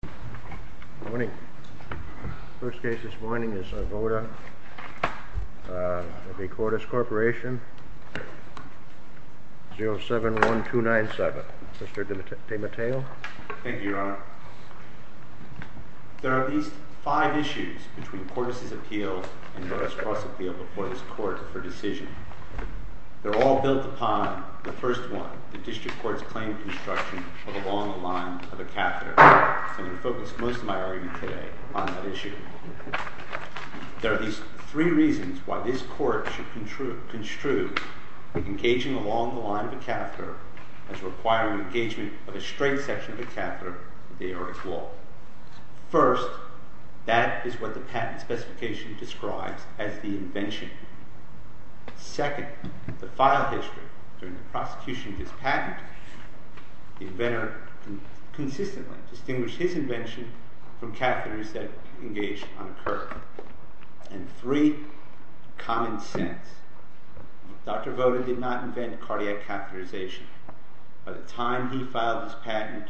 071297 Mr. DeMatteo Thank you, Your Honor. There are at least five issues between Cordis' appeal and Voda's cross-appeal before this Court for decision. They're all built upon the first one, the District Court's claim to destruction of a law on the line of the catheter. So I'm going to focus most of my argument today on that issue. There are at least three reasons why this Court should construe engaging along the line of the catheter as requiring engagement of a straight section of the catheter of the aortic wall. First, that is what the patent specification describes as the invention. Second, the file history during the prosecution of this patent, the inventor can consistently distinguish his invention from catheters that engage on a curve. And three, common sense. Dr. Voda did not invent cardiac catheterization. By the time he filed this patent,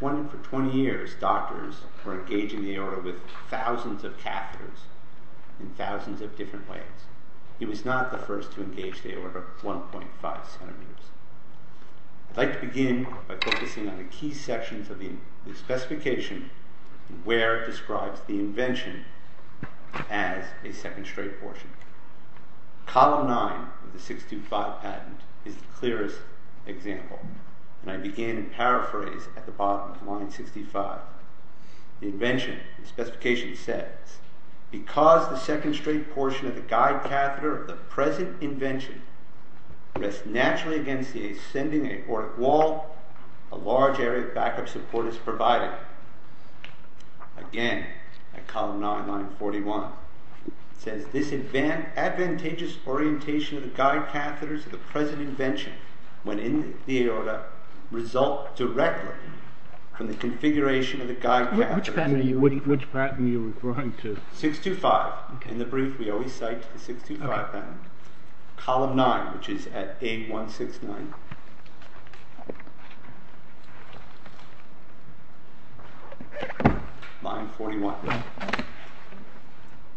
for 20 years, doctors were engaging the aorta with thousands of catheters in thousands of different ways. He was not the first to engage the aorta 1.5 centimeters. I'd like to begin by focusing on the key sections of the specification where it describes the invention as a second straight portion. Column 9 of the 625 patent is the clearest example, and I begin to paraphrase at the bottom of line 65. The invention, the specification says, because the second straight portion of the guide catheter of the present invention rests naturally against the ascending aortic wall, a large area of backup support is provided. Again, at column 9, line 41, it says this advantageous orientation of the guide catheters of the present invention when in the aorta result directly from the configuration of the guide catheters. Which patent are you referring to? 625. In the brief, we always cite the 625 patent. Column 9, which is at A169, line 41.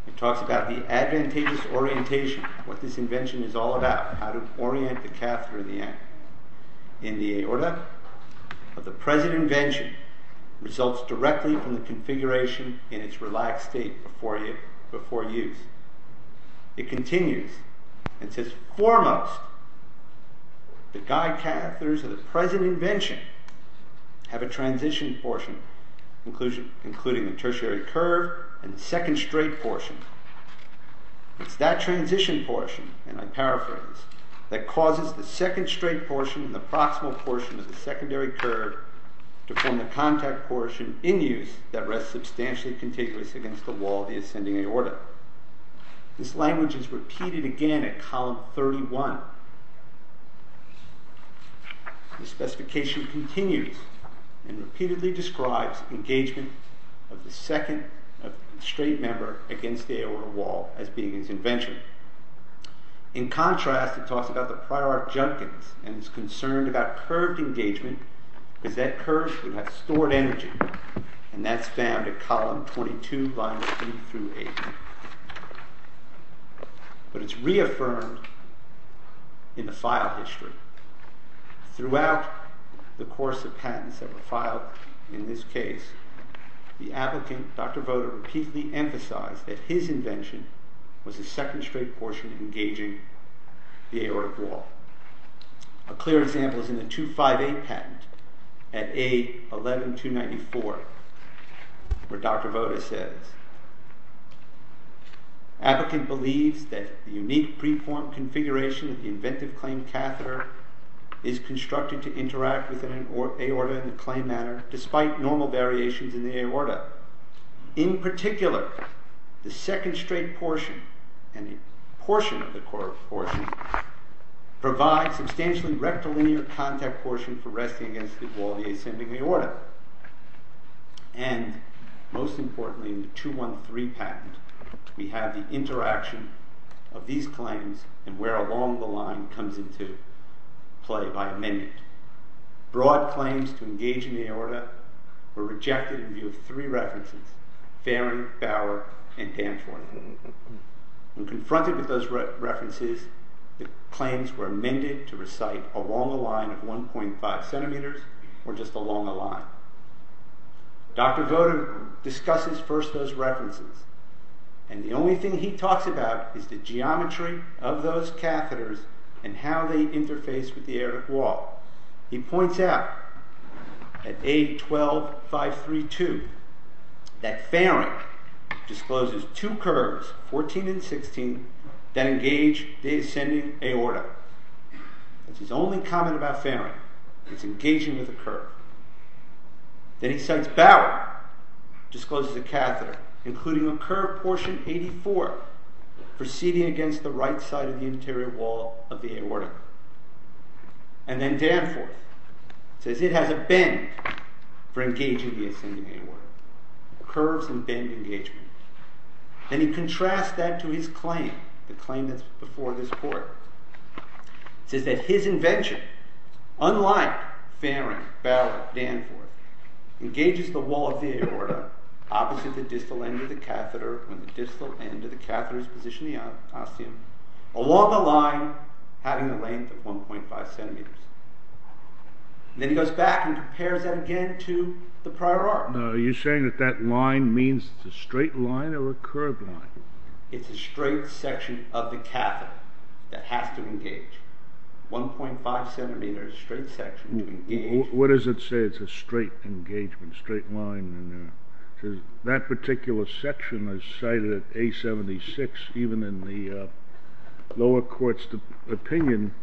It talks about the advantageous orientation, what this invention is all about, how to orient the catheter in the aorta. The guide catheters of the present invention results directly from the configuration in its relaxed state before use. It continues and says foremost, the guide catheters of the present invention have a transition portion including the tertiary curve and second straight portion. It's that transition portion, and I paraphrase, that causes the second straight portion and the proximal portion of the secondary curve to form the contact portion in use that rests substantially contiguous against the wall of the ascending aorta. This language is repeated again at column 31. The specification continues and repeatedly describes engagement of the second straight member against the aorta wall as being its invention. In contrast, it talks about the prior junctions and is concerned about curved engagement because that curve would have stored energy, and that's found at column 22, lines 3 through 8. But it's reaffirmed in the file history. Throughout the course of patents that were filed in this case, the applicant, Dr. Voda, repeatedly emphasized that his invention was the second straight portion engaging the aorta wall. A clear example is in the 258 patent at A11294 where Dr. Voda says, applicant believes that the unique preformed configuration of the inventive claimed catheter is constructed to interact with an aorta in the claimed manner despite normal variations in the aorta. In particular, the second straight portion and the portion of the curved portion provide substantially rectilinear contact portion for resting against the wall of the ascending aorta. And most importantly in the 213 patent, we have the interaction of these claims and where along the line comes into play by amendment. Broad claims to engage in the aorta were rejected in view of three references, Faring, Bower, and Hanford. When confronted with those references, the claims were amended to recite along the line of 1.5 centimeters or just along the line. Dr. Voda discusses first those references and the only thing he talks about is the geometry of those catheters and how they interface with the aortic wall. He points out at A12532 that Faring discloses two curves, 14 and 16, that engage the ascending aorta. That's his only comment about Faring, it's engaging with a curve. Then he says Bower discloses a catheter including a curved portion 84 proceeding against the right side of the interior wall of the aorta. And then Danforth says it has a bend for engaging the ascending aorta. Curves and bend engagement. Then he contrasts that to his claim, the claim that's before this court. It says that his invention, unlike Faring, Bower, Danforth, engages the wall of the aorta opposite the distal end of the catheter when the distal end of the catheter is positioned along the line having a length of 1.5 centimeters. Then he goes back and compares that again to the prior art. Are you saying that that line means it's a straight line or a curved line? It's a straight section of the catheter that has to engage. 1.5 centimeters straight section to engage. What does it say? It's a straight engagement, straight line. That particular section is cited at A76 even in the lower court's opinion.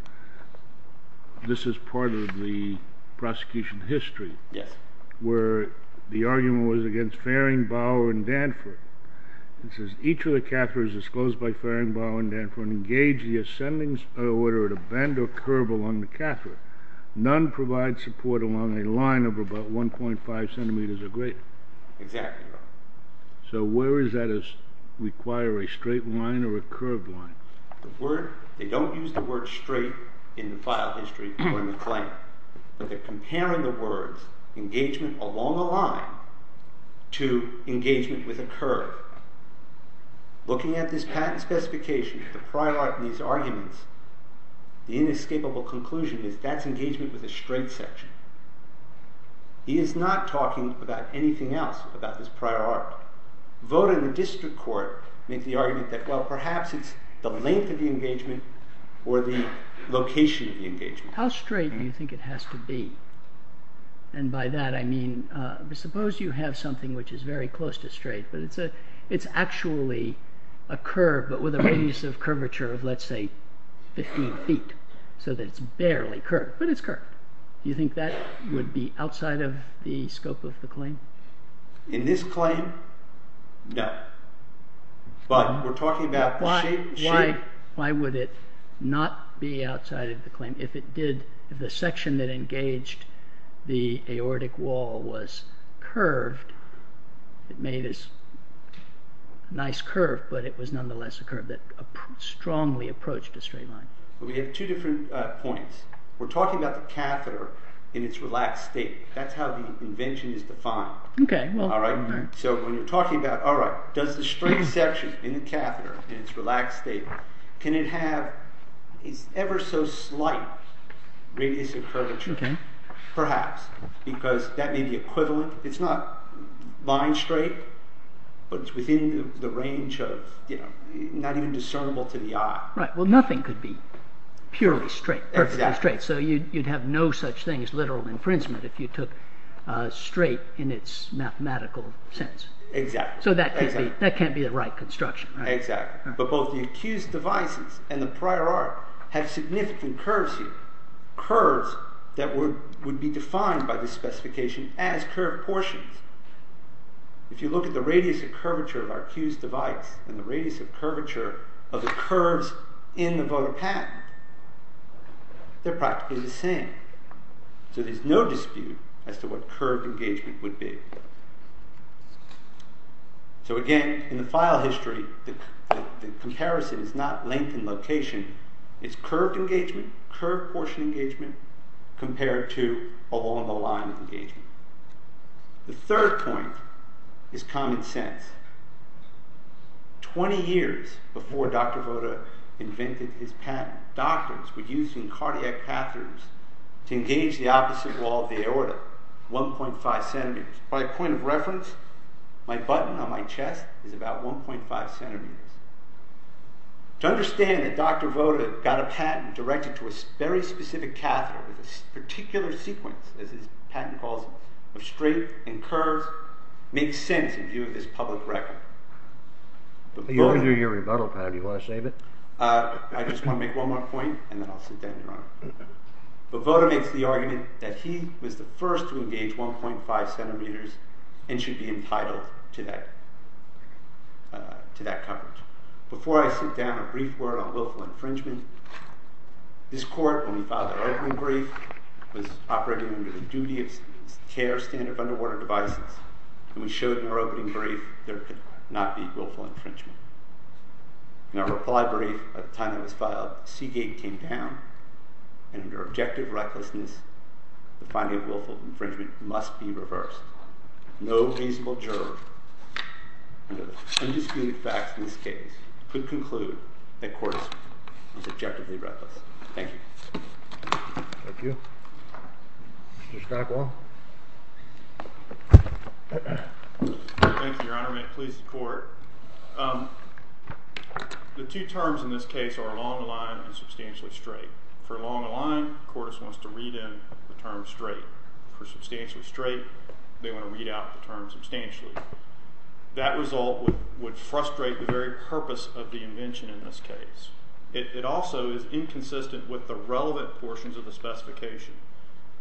This is part of the prosecution history where the argument was against Faring, Bower, and Danforth. It says each of the catheters disclosed by Faring, Bower, and Danforth engage the ascending aorta at a bend or curve along the catheter. None provide support along a line of about 1.5 centimeters or greater. Exactly right. So where does that require a straight line or a curved line? They don't use the word straight in the file history or in the claim. They're comparing the words engagement along a line to engagement with a curve. Looking at this patent specification, the prior art in these arguments, the inescapable conclusion is that's engagement with a straight section. He is not talking about anything else about this prior art. The vote in the district court made the argument that perhaps it's the length of the engagement or the location of the engagement. How straight do you think it has to be? And by that I mean, suppose you have something which is very close to straight, but it's actually a curve but with a radius of curvature of let's say 15 feet so that it's barely curved, but it's curved. Do you think that would be outside of the scope of the claim? In this claim, no. Why would it not be outside of the claim if the section that engaged the aortic wall was curved? It made a nice curve, but it was nonetheless a curve that strongly approached a straight line. We have two different points. We're talking about the catheter in its relaxed state. That's how the invention is defined. Does the straight section in the catheter in its relaxed state, can it have an ever so slight radius of curvature? Perhaps, because that may be equivalent. It's not line straight, but it's within the range of not even discernible to the eye. Right, well nothing could be purely straight, perfectly straight. So you'd have no such thing as literal infringement if you took straight in its mathematical sense. Exactly. So that can't be the right construction. Exactly. But both the accused devices and the prior art have significant curves here. Curves that would be defined by the specification as curved portions. If you look at the radius of curvature of our accused device and the radius of curvature of the curves in the voter patent, they're practically the same. So there's no dispute as to what curved engagement would be. So again, in the file history, the comparison is not length and location, it's curved engagement, curved portion engagement, compared to along the line of engagement. The third point is common sense. Twenty years before Dr. Voda invented his patent, doctors were using cardiac catheters to engage the opposite wall of the aorta, 1.5 centimeters. By a point of reference, my button on my chest is about 1.5 centimeters. To understand that Dr. Voda got a patent directed to a very specific catheter, with a particular sequence, as his patent calls them, of straight and curves, makes sense in view of this public record. You can do your rebuttal, Pat. Do you want to save it? I just want to make one more point, and then I'll sit down, Your Honor. But Voda makes the argument that he was the first to engage 1.5 centimeters and should be entitled to that coverage. Before I sit down, a brief word on willful infringement. This court, when we filed our opening brief, was operating under the duty of care standard of underwater devices, and we showed in our opening brief there could not be willful infringement. In our reply brief, by the time it was filed, Seagate came down, and under objective recklessness, the finding of willful infringement must be reversed. No reasonable juror, with indisputed facts in this case, could conclude that Cordes was objectively reckless. Thank you. Thank you. Mr. Skakwal. Thank you, Your Honor. May it please the Court. The two terms in this case are long-aligned and substantially straight. For long-aligned, Cordes wants to read in the term straight. For substantially straight, they want to read out the term substantially. That result would frustrate the very purpose of the invention in this case. It also is inconsistent with the relevant portions of the specification.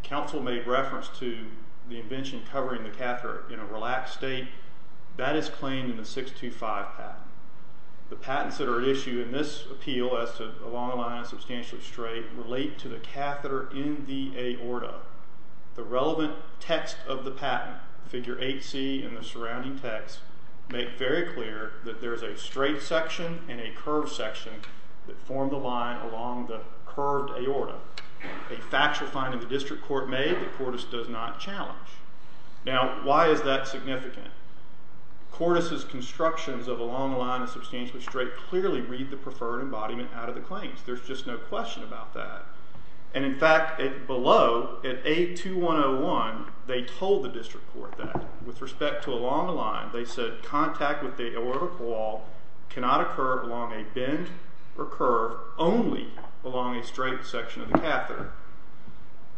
Counsel made reference to the invention covering the catheter in a relaxed state. That is claimed in the 625 patent. The patents that are at issue in this appeal as to long-aligned and substantially straight relate to the catheter in the aorta. The relevant text of the patent, figure 8C and the surrounding text, make very clear that there is a straight section and a curved section that form the line along the curved aorta, a factual finding the district court made that Cordes does not challenge. Now, why is that significant? Cordes' constructions of a long-aligned and substantially straight clearly read the preferred embodiment out of the claims. There's just no question about that. In fact, below, at 82101, they told the district court that. With respect to a long-aligned, they said, contact with the aortic wall cannot occur along a bend or curve only along a straight section of the catheter.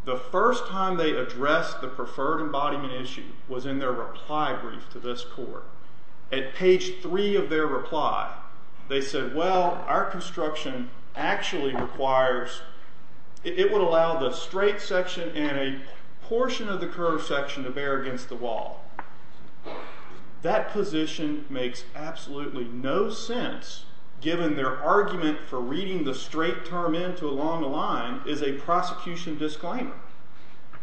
The first time they addressed the preferred embodiment issue was in their reply brief to this court. At page 3 of their reply, they said, well, our construction actually requires, it would allow the straight section and a portion of the curved section to bear against the wall. That position makes absolutely no sense given their argument for reading the straight term into a long-aligned is a prosecution disclaimer.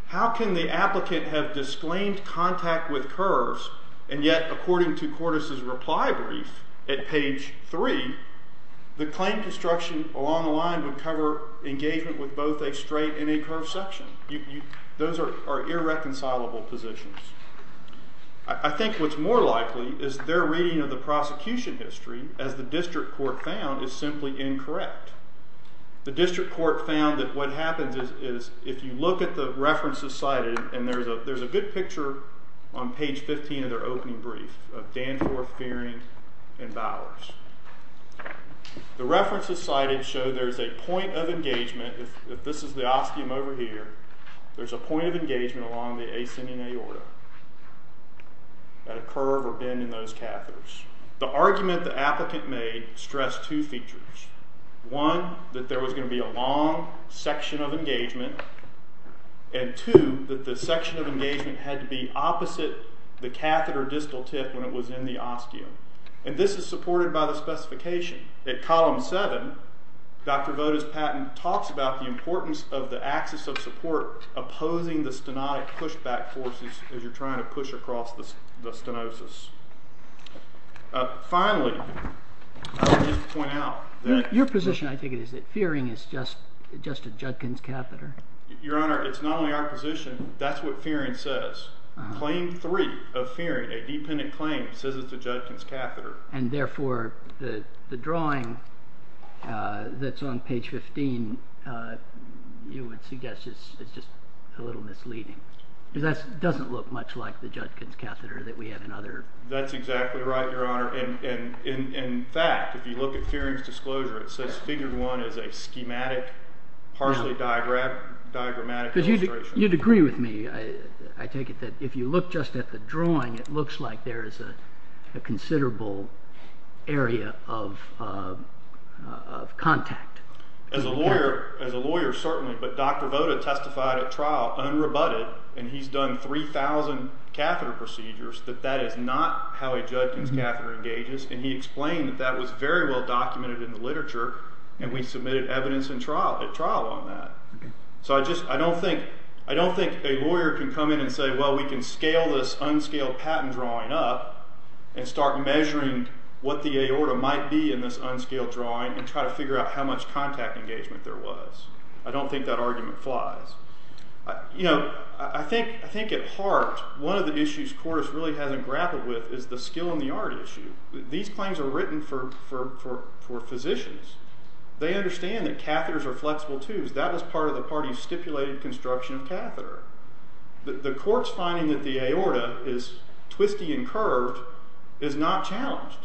How can the applicant have disclaimed contact with curves and yet according to Cordes' reply brief at page 3, the claim construction along the line would cover engagement with both a straight and a curved section? Those are irreconcilable positions. I think what's more likely is their reading of the prosecution history, as the district court found, is simply incorrect. The district court found that what happens is if you look at the references cited, and there's a good picture on page 15 of their opening brief, of Danforth, Gearing, and Bowers. The references cited show there's a point of engagement, if this is the osteum over here, there's a point of engagement along the ascending aorta at a curve or bend in those catheters. The argument the applicant made stressed two features. One, that there was going to be a long section of engagement, and two, that the section of engagement had to be opposite the catheter distal tip when it was in the osteum. And this is supported by the specification. At column 7, Dr. Voda's patent talks about the importance of the axis of support opposing the stenotic pushback forces as you're trying to push across the stenosis. Finally, I'll just point out that... Your Honor, it's not only our position, that's what Fearing says. Claim 3 of Fearing, a dependent claim, says it's a Judkin's catheter. And therefore, the drawing that's on page 15, you would suggest is just a little misleading. Because that doesn't look much like the Judkin's catheter that we have in other... That's exactly right, Your Honor. In fact, if you look at Fearing's disclosure, it says figure 1 is a schematic, partially diagrammatic illustration. You'd agree with me, I take it, that if you look just at the drawing, it looks like there is a considerable area of contact. As a lawyer, certainly. But Dr. Voda testified at trial, unrebutted, and he's done 3,000 catheter procedures, that that is not how a Judkin's catheter engages. And he explained that that was very well documented in the literature, and we submitted evidence at trial on that. So I don't think a lawyer can come in and say, well, we can scale this unscaled patent drawing up and start measuring what the aorta might be in this unscaled drawing and try to figure out how much contact engagement there was. I don't think that argument flies. You know, I think at heart, one of the issues Cordes really hasn't grappled with is the skill and the art issue. These claims are written for physicians. They understand that catheters are flexible tubes. That was part of the party's stipulated construction of catheter. The Cordes finding that the aorta is twisty and curved is not challenged.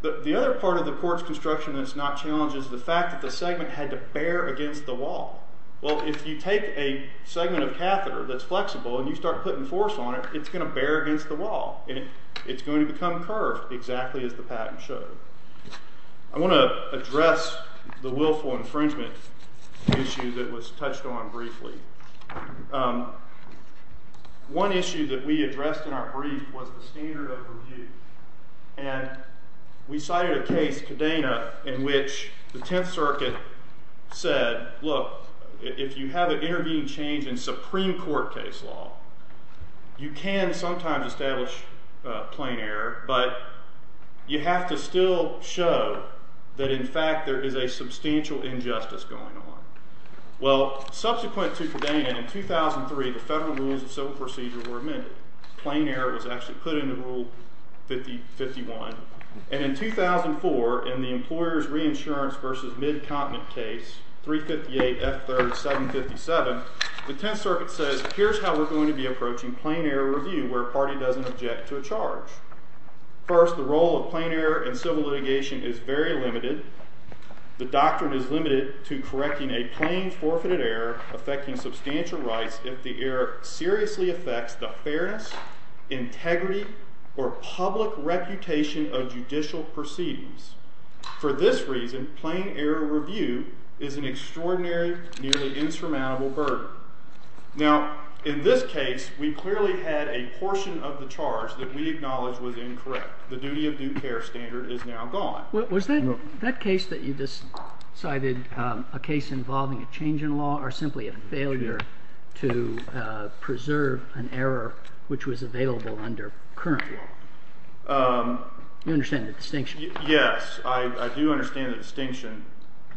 The other part of the Cordes construction that's not challenged is the fact that the segment had to bear against the wall. Well, if you take a segment of catheter that's flexible and you start putting force on it, it's going to bear against the wall. It's going to become curved, exactly as the patent showed. I want to address the willful infringement issue that was touched on briefly. One issue that we addressed in our brief was the standard of review. And we cited a case, Cadena, in which the Tenth Circuit said, look, if you have an intervening change in Supreme Court case law, you can sometimes establish plain error, but you have to still show that, in fact, there is a substantial injustice going on. Well, subsequent to Cadena, in 2003, the Federal Rules of Civil Procedure were amended. Plain error was actually put into Rule 51. And in 2004, in the Employers' Reinsurance v. Midcontinent case, 358 F. 3rd 757, the Tenth Circuit says, here's how we're going to be approaching plain error review where a party doesn't object to a charge. First, the role of plain error in civil litigation is very limited. The doctrine is limited to correcting a plain forfeited error affecting substantial rights if the error seriously affects the fairness, integrity, or public reputation of judicial proceedings. For this reason, plain error review is an extraordinary, nearly insurmountable burden. Now, in this case, we clearly had a portion of the charge that we acknowledge was incorrect. The duty of due care standard is now gone. Was that case that you just cited a case involving a change in law or simply a failure to preserve an error which was available under current law? You understand the distinction? Yes, I do understand the distinction.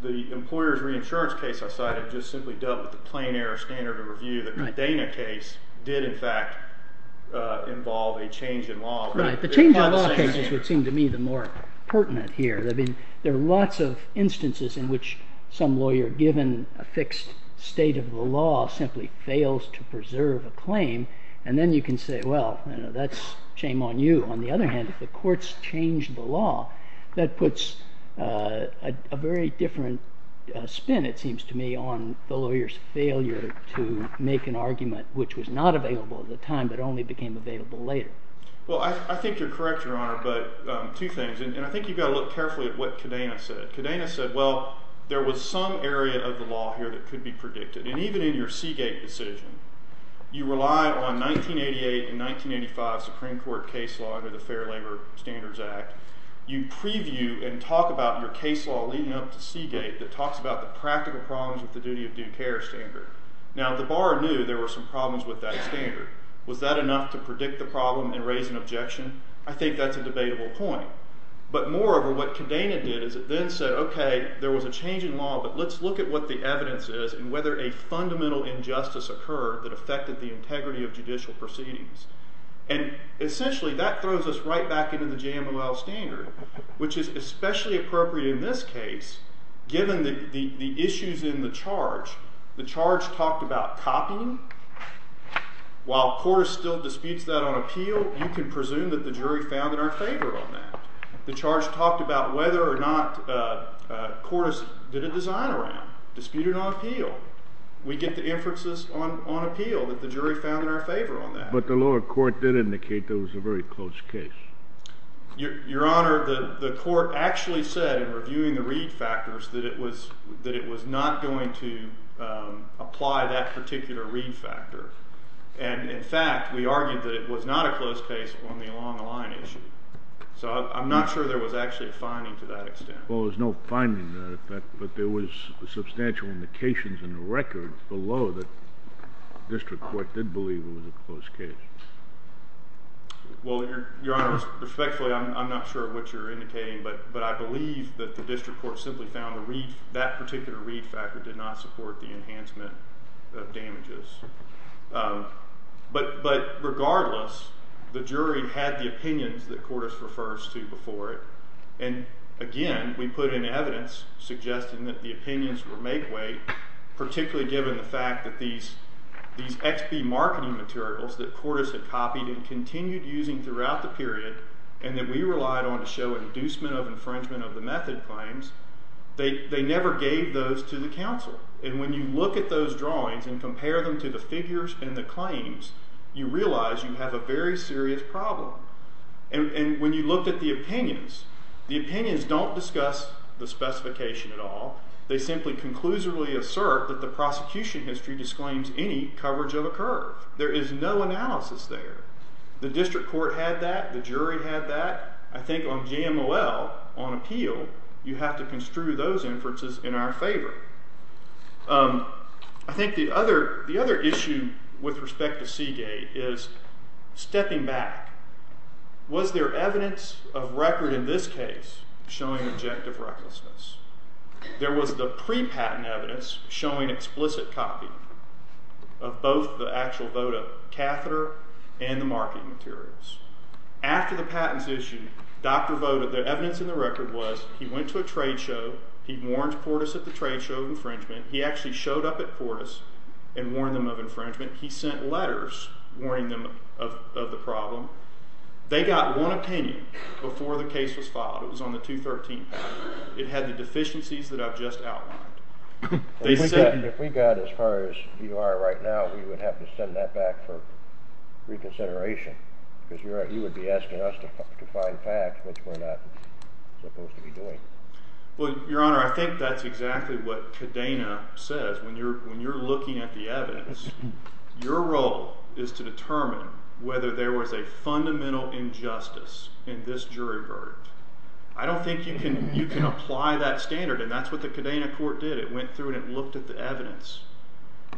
The employer's reinsurance case I cited just simply dealt with the plain error standard of review. The Medina case did, in fact, involve a change in law. The change in law cases would seem to me the more pertinent here. There are lots of instances in which some lawyer, given a fixed state of the law, simply fails to preserve a claim, and then you can say, well, that's shame on you. On the other hand, if the court's changed the law, that puts a very different spin, it seems to me, on the lawyer's failure to make an argument which was not available at the time but only became available later. Well, I think you're correct, Your Honor, but two things, and I think you've got to look carefully at what Cadena said. Cadena said, well, there was some area of the law here that could be predicted, and even in your Seagate decision, you relied on 1988 and 1985 Supreme Court case law under the Fair Labor Standards Act. You preview and talk about your case law leading up to Seagate that talks about the practical problems with the duty of due care standard. Now, the bar knew there were some problems with that standard. Was that enough to predict the problem and raise an objection? I think that's a debatable point. But moreover, what Cadena did is it then said, OK, there was a change in law, but let's look at what the evidence is and whether a fundamental injustice occurred that affected the integrity of judicial proceedings. And essentially, that throws us right back into the JMOL standard, which is especially appropriate in this case, given the issues in the charge. The charge talked about copying. While Cordes still disputes that on appeal, you can presume that the jury found in our favor on that. The charge talked about whether or not Cordes did a design-around, disputed on appeal. We get the inferences on appeal that the jury found in our favor on that. But the lower court did indicate there was a very close case. Your Honor, the court actually said, in reviewing the read factors, that it was not going to apply that particular read factor. And in fact, we argued that it was not a close case on the along-the-line issue. So I'm not sure there was actually a finding to that extent. Well, there was no finding to that effect, but there was substantial indications in the record below that the district court did believe it was a close case. Well, Your Honor, respectfully, I'm not sure of what you're indicating, but I believe that the district court simply found that particular read factor did not support the enhancement of damages. But regardless, the jury had the opinions that Cordes refers to before it. And again, we put in evidence suggesting that the opinions were make-weight, particularly given the fact that these XP marketing materials that Cordes had copied and continued using throughout the period and that we relied on to show an inducement of infringement of the method claims, they never gave those to the counsel. And when you look at those drawings and compare them to the figures and the claims, you realize you have a very serious problem. And when you looked at the opinions, the opinions don't discuss the specification at all. They simply conclusively assert that the prosecution history disclaims any coverage of a curve. There is no analysis there. The district court had that, the jury had that. I think on JMOL, on appeal, you have to construe those inferences in our favor. I think the other issue with respect to Seagate is stepping back. Was there evidence of record in this case showing objective recklessness? There was the pre-patent evidence showing explicit copy of both the actual Voda catheter and the marketing materials. After the patent's issue, Dr. Voda, the evidence in the record was he went to a trade show, he warned Cordes at the trade show of infringement. He actually showed up at Cordes and warned them of infringement. He sent letters warning them of the problem. They got one opinion before the case was filed. It was on the 213th. It had the deficiencies that I've just outlined. If we got as far as you are right now, we would have to send that back for reconsideration. Because you would be asking us to find facts which we're not supposed to be doing. Your Honor, I think that's exactly what Cadena says. When you're looking at the evidence, your role is to determine whether there was a fundamental injustice in this jury verdict. I don't think you can apply that standard. That's what the Cadena court did. It went through and looked at the evidence.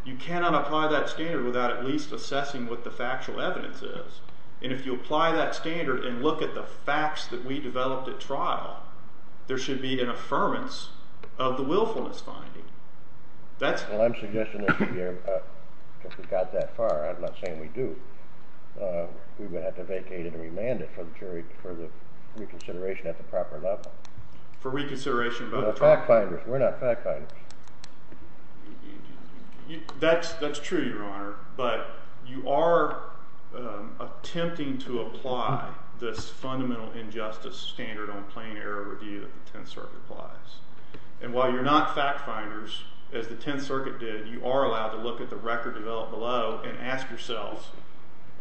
You cannot apply that standard without at least assessing what the factual evidence is. If you apply that standard and look at the facts that we developed at trial, there should be an affirmance of the willfulness finding. I'm suggesting that if we got that far, I'm not saying we do, we would have to vacate it and remand it for reconsideration at the proper level. For reconsideration at both trials? We're not fact-finders. That's true, your Honor. But you are attempting to apply this fundamental injustice standard on plain error review that the Tenth Circuit applies. While you're not fact-finders, as the Tenth Circuit did, you are allowed to look at the record developed below and ask yourselves,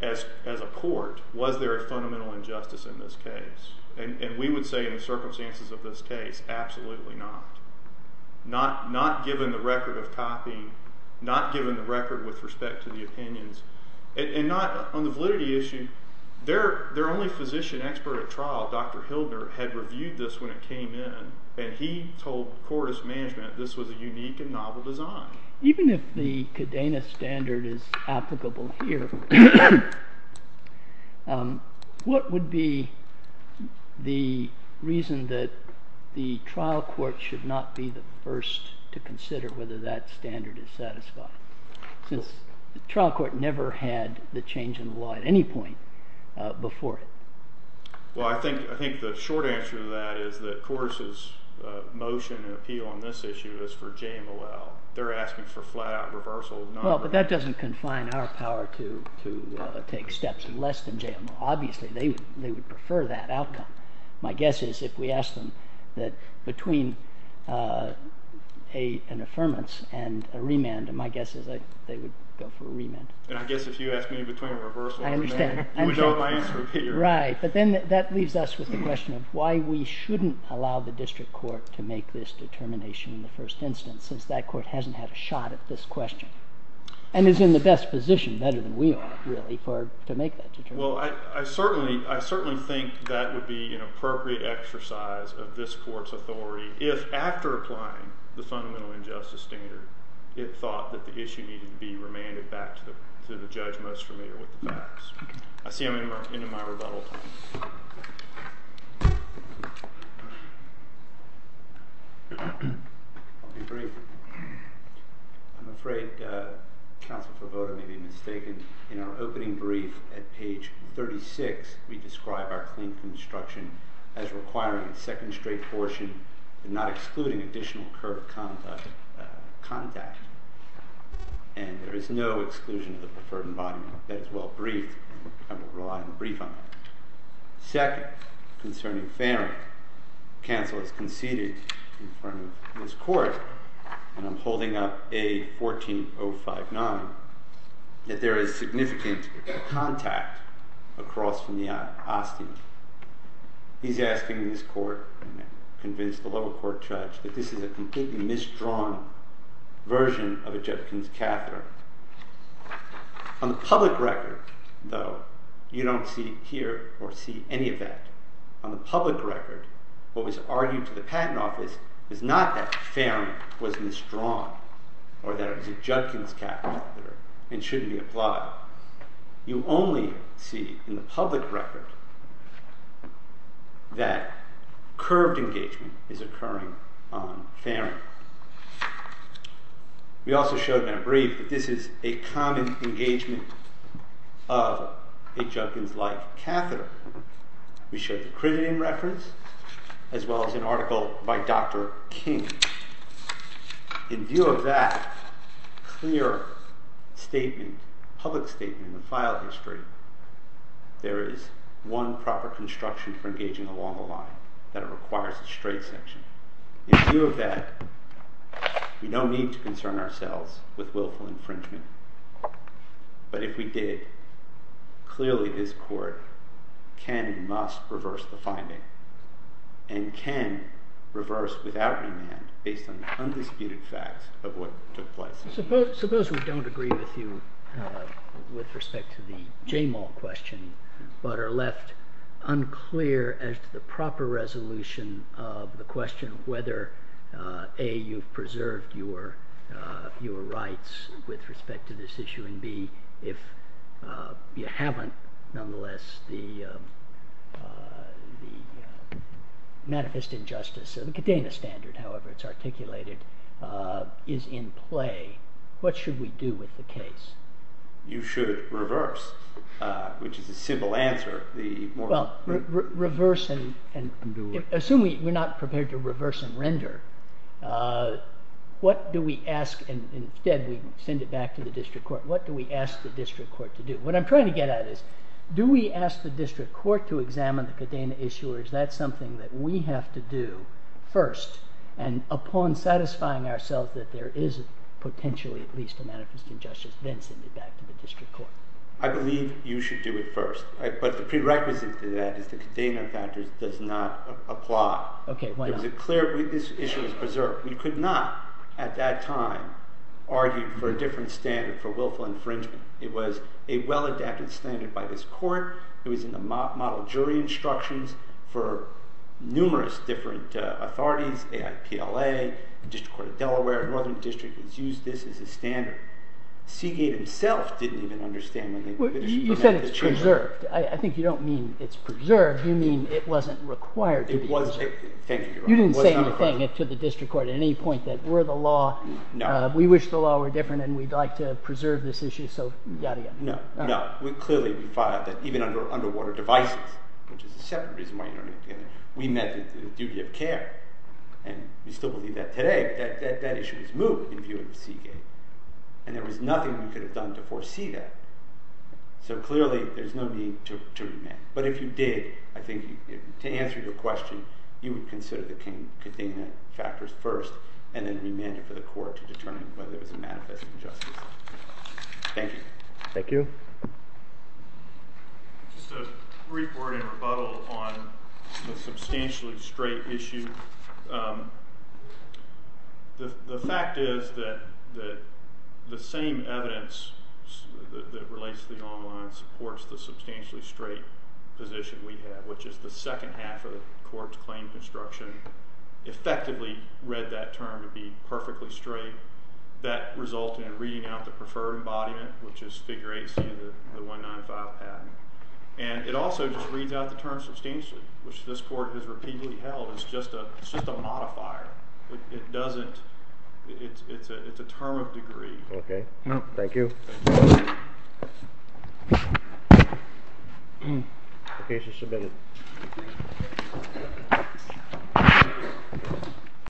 as a court, was there a fundamental injustice in this case? And we would say, in the circumstances of this case, absolutely not. Not given the record of copying, not given the record with respect to the opinions, and not on the validity issue. Their only physician expert at trial, Dr. Hildner, had reviewed this when it came in, and he told Cordis Management this was a unique and novel design. Even if the Cadena standard is applicable here, what would be the reason that the trial court should not be the first to consider whether that standard is satisfied? Since the trial court never had the change in the law at any point before it. Well, I think the short answer to that is that Cordis' motion and appeal on this issue is for JMLL. They're asking for flat-out reversal. Well, but that doesn't confine our power to take steps less than JMLL. Obviously, they would prefer that outcome. My guess is if we ask them that between an affirmance and a remand, my guess is they would go for a remand. And I guess if you ask me between a reversal and a remand, you would know my answer. Right. But then that leaves us with the question of why we shouldn't allow the district court to make this determination in the first instance, since that court hasn't had a shot at this question and is in the best position, better than we are, really, to make that determination. Well, I certainly think that would be an appropriate exercise of this court's authority if, after applying the fundamental injustice standard, it thought that the issue needed to be remanded back to the judge most familiar with the facts. I see I'm into my rebuttal time. I'll be brief. I'm afraid Counsel Forvoda may be mistaken. In our opening brief at page 36, we describe our clean construction as requiring a second straight portion and not excluding additional curb contact. And there is no exclusion of the preferred embodiment. That is well-briefed. I will rely on the brief on that. Second, concerning Farron, I think Counsel has conceded in front of this court, and I'm holding up A14059, that there is significant contact across from the Austin. He's asking this court, and I'm convinced the lower court judge, that this is a completely misdrawn version of a Judgment of Catherine. On the public record, though, you don't see here or see any of that. On the public record, what was argued to the Patent Office is not that Farron was misdrawn or that it was a Judgment of Catherine and shouldn't be applied. You only see in the public record that curved engagement is occurring on Farron. We also showed in our brief that this is a common engagement of a Judgment-like Catherine. We showed the crediting reference as well as an article by Dr. King. In view of that clear statement, public statement in the file history, there is one proper construction for engaging along the line, that it requires a straight section. In view of that, we don't need to concern ourselves with willful infringement. But if we did, clearly this Court can and must reverse the finding and can reverse without remand based on the undisputed facts of what took place. Suppose we don't agree with you with respect to the Jamal question but are left unclear as to the proper resolution of the question of whether A, you've preserved your rights with respect to this issue and B, if you haven't, nonetheless, the manifest injustice of the Kadena standard, however it's articulated, is in play. What should we do with the case? You should reverse, which is a simple answer. Assuming we're not prepared to reverse and render, what do we ask, and instead we send it back to the district court, what do we ask the district court to do? What I'm trying to get at is do we ask the district court to examine the Kadena issue or is that something that we have to do first and upon satisfying ourselves that there is potentially at least a manifest injustice then send it back to the district court? I believe you should do it first. But the prerequisite to that is the Kadena factor does not apply. This issue is preserved. We could not, at that time, argue for a different standard for willful infringement. It was a well-adapted standard by this court. It was in the model jury instructions for numerous different authorities, the IPLA, the District Court of Delaware, the Northern District used this as a standard. Seagate himself didn't even understand when they finished. You said it's preserved. I think you don't mean it's preserved, you mean it wasn't required. Thank you, Your Honor. You didn't say anything to the district court at any point that we're the law, we wish the law were different and we'd like to preserve this issue. No, clearly we found out that even under underwater devices, which is a separate reason why you don't need to get it, we met the duty of care and we still believe that today. That issue is moved in view of Seagate and there was nothing we could have done to foresee that. So clearly there's no need to amend. But if you did, to answer your question, you would consider the containment factors first and then remand it for the court to determine whether it was a manifest injustice. Thank you. Thank you. Just a brief word in rebuttal on the substantially straight issue. The fact is that the same evidence that relates to the online supports the substantially straight position we have, which is the second half of the court's claim construction effectively read that term to be perfectly straight. That resulted in reading out the preferred embodiment, which is figure 8c of the 195 patent. And it also just reads out the term substantially, which this court has repeatedly held as just a modifier. It doesn't. It's a term of degree. Okay. Thank you. Okay. She's submitted.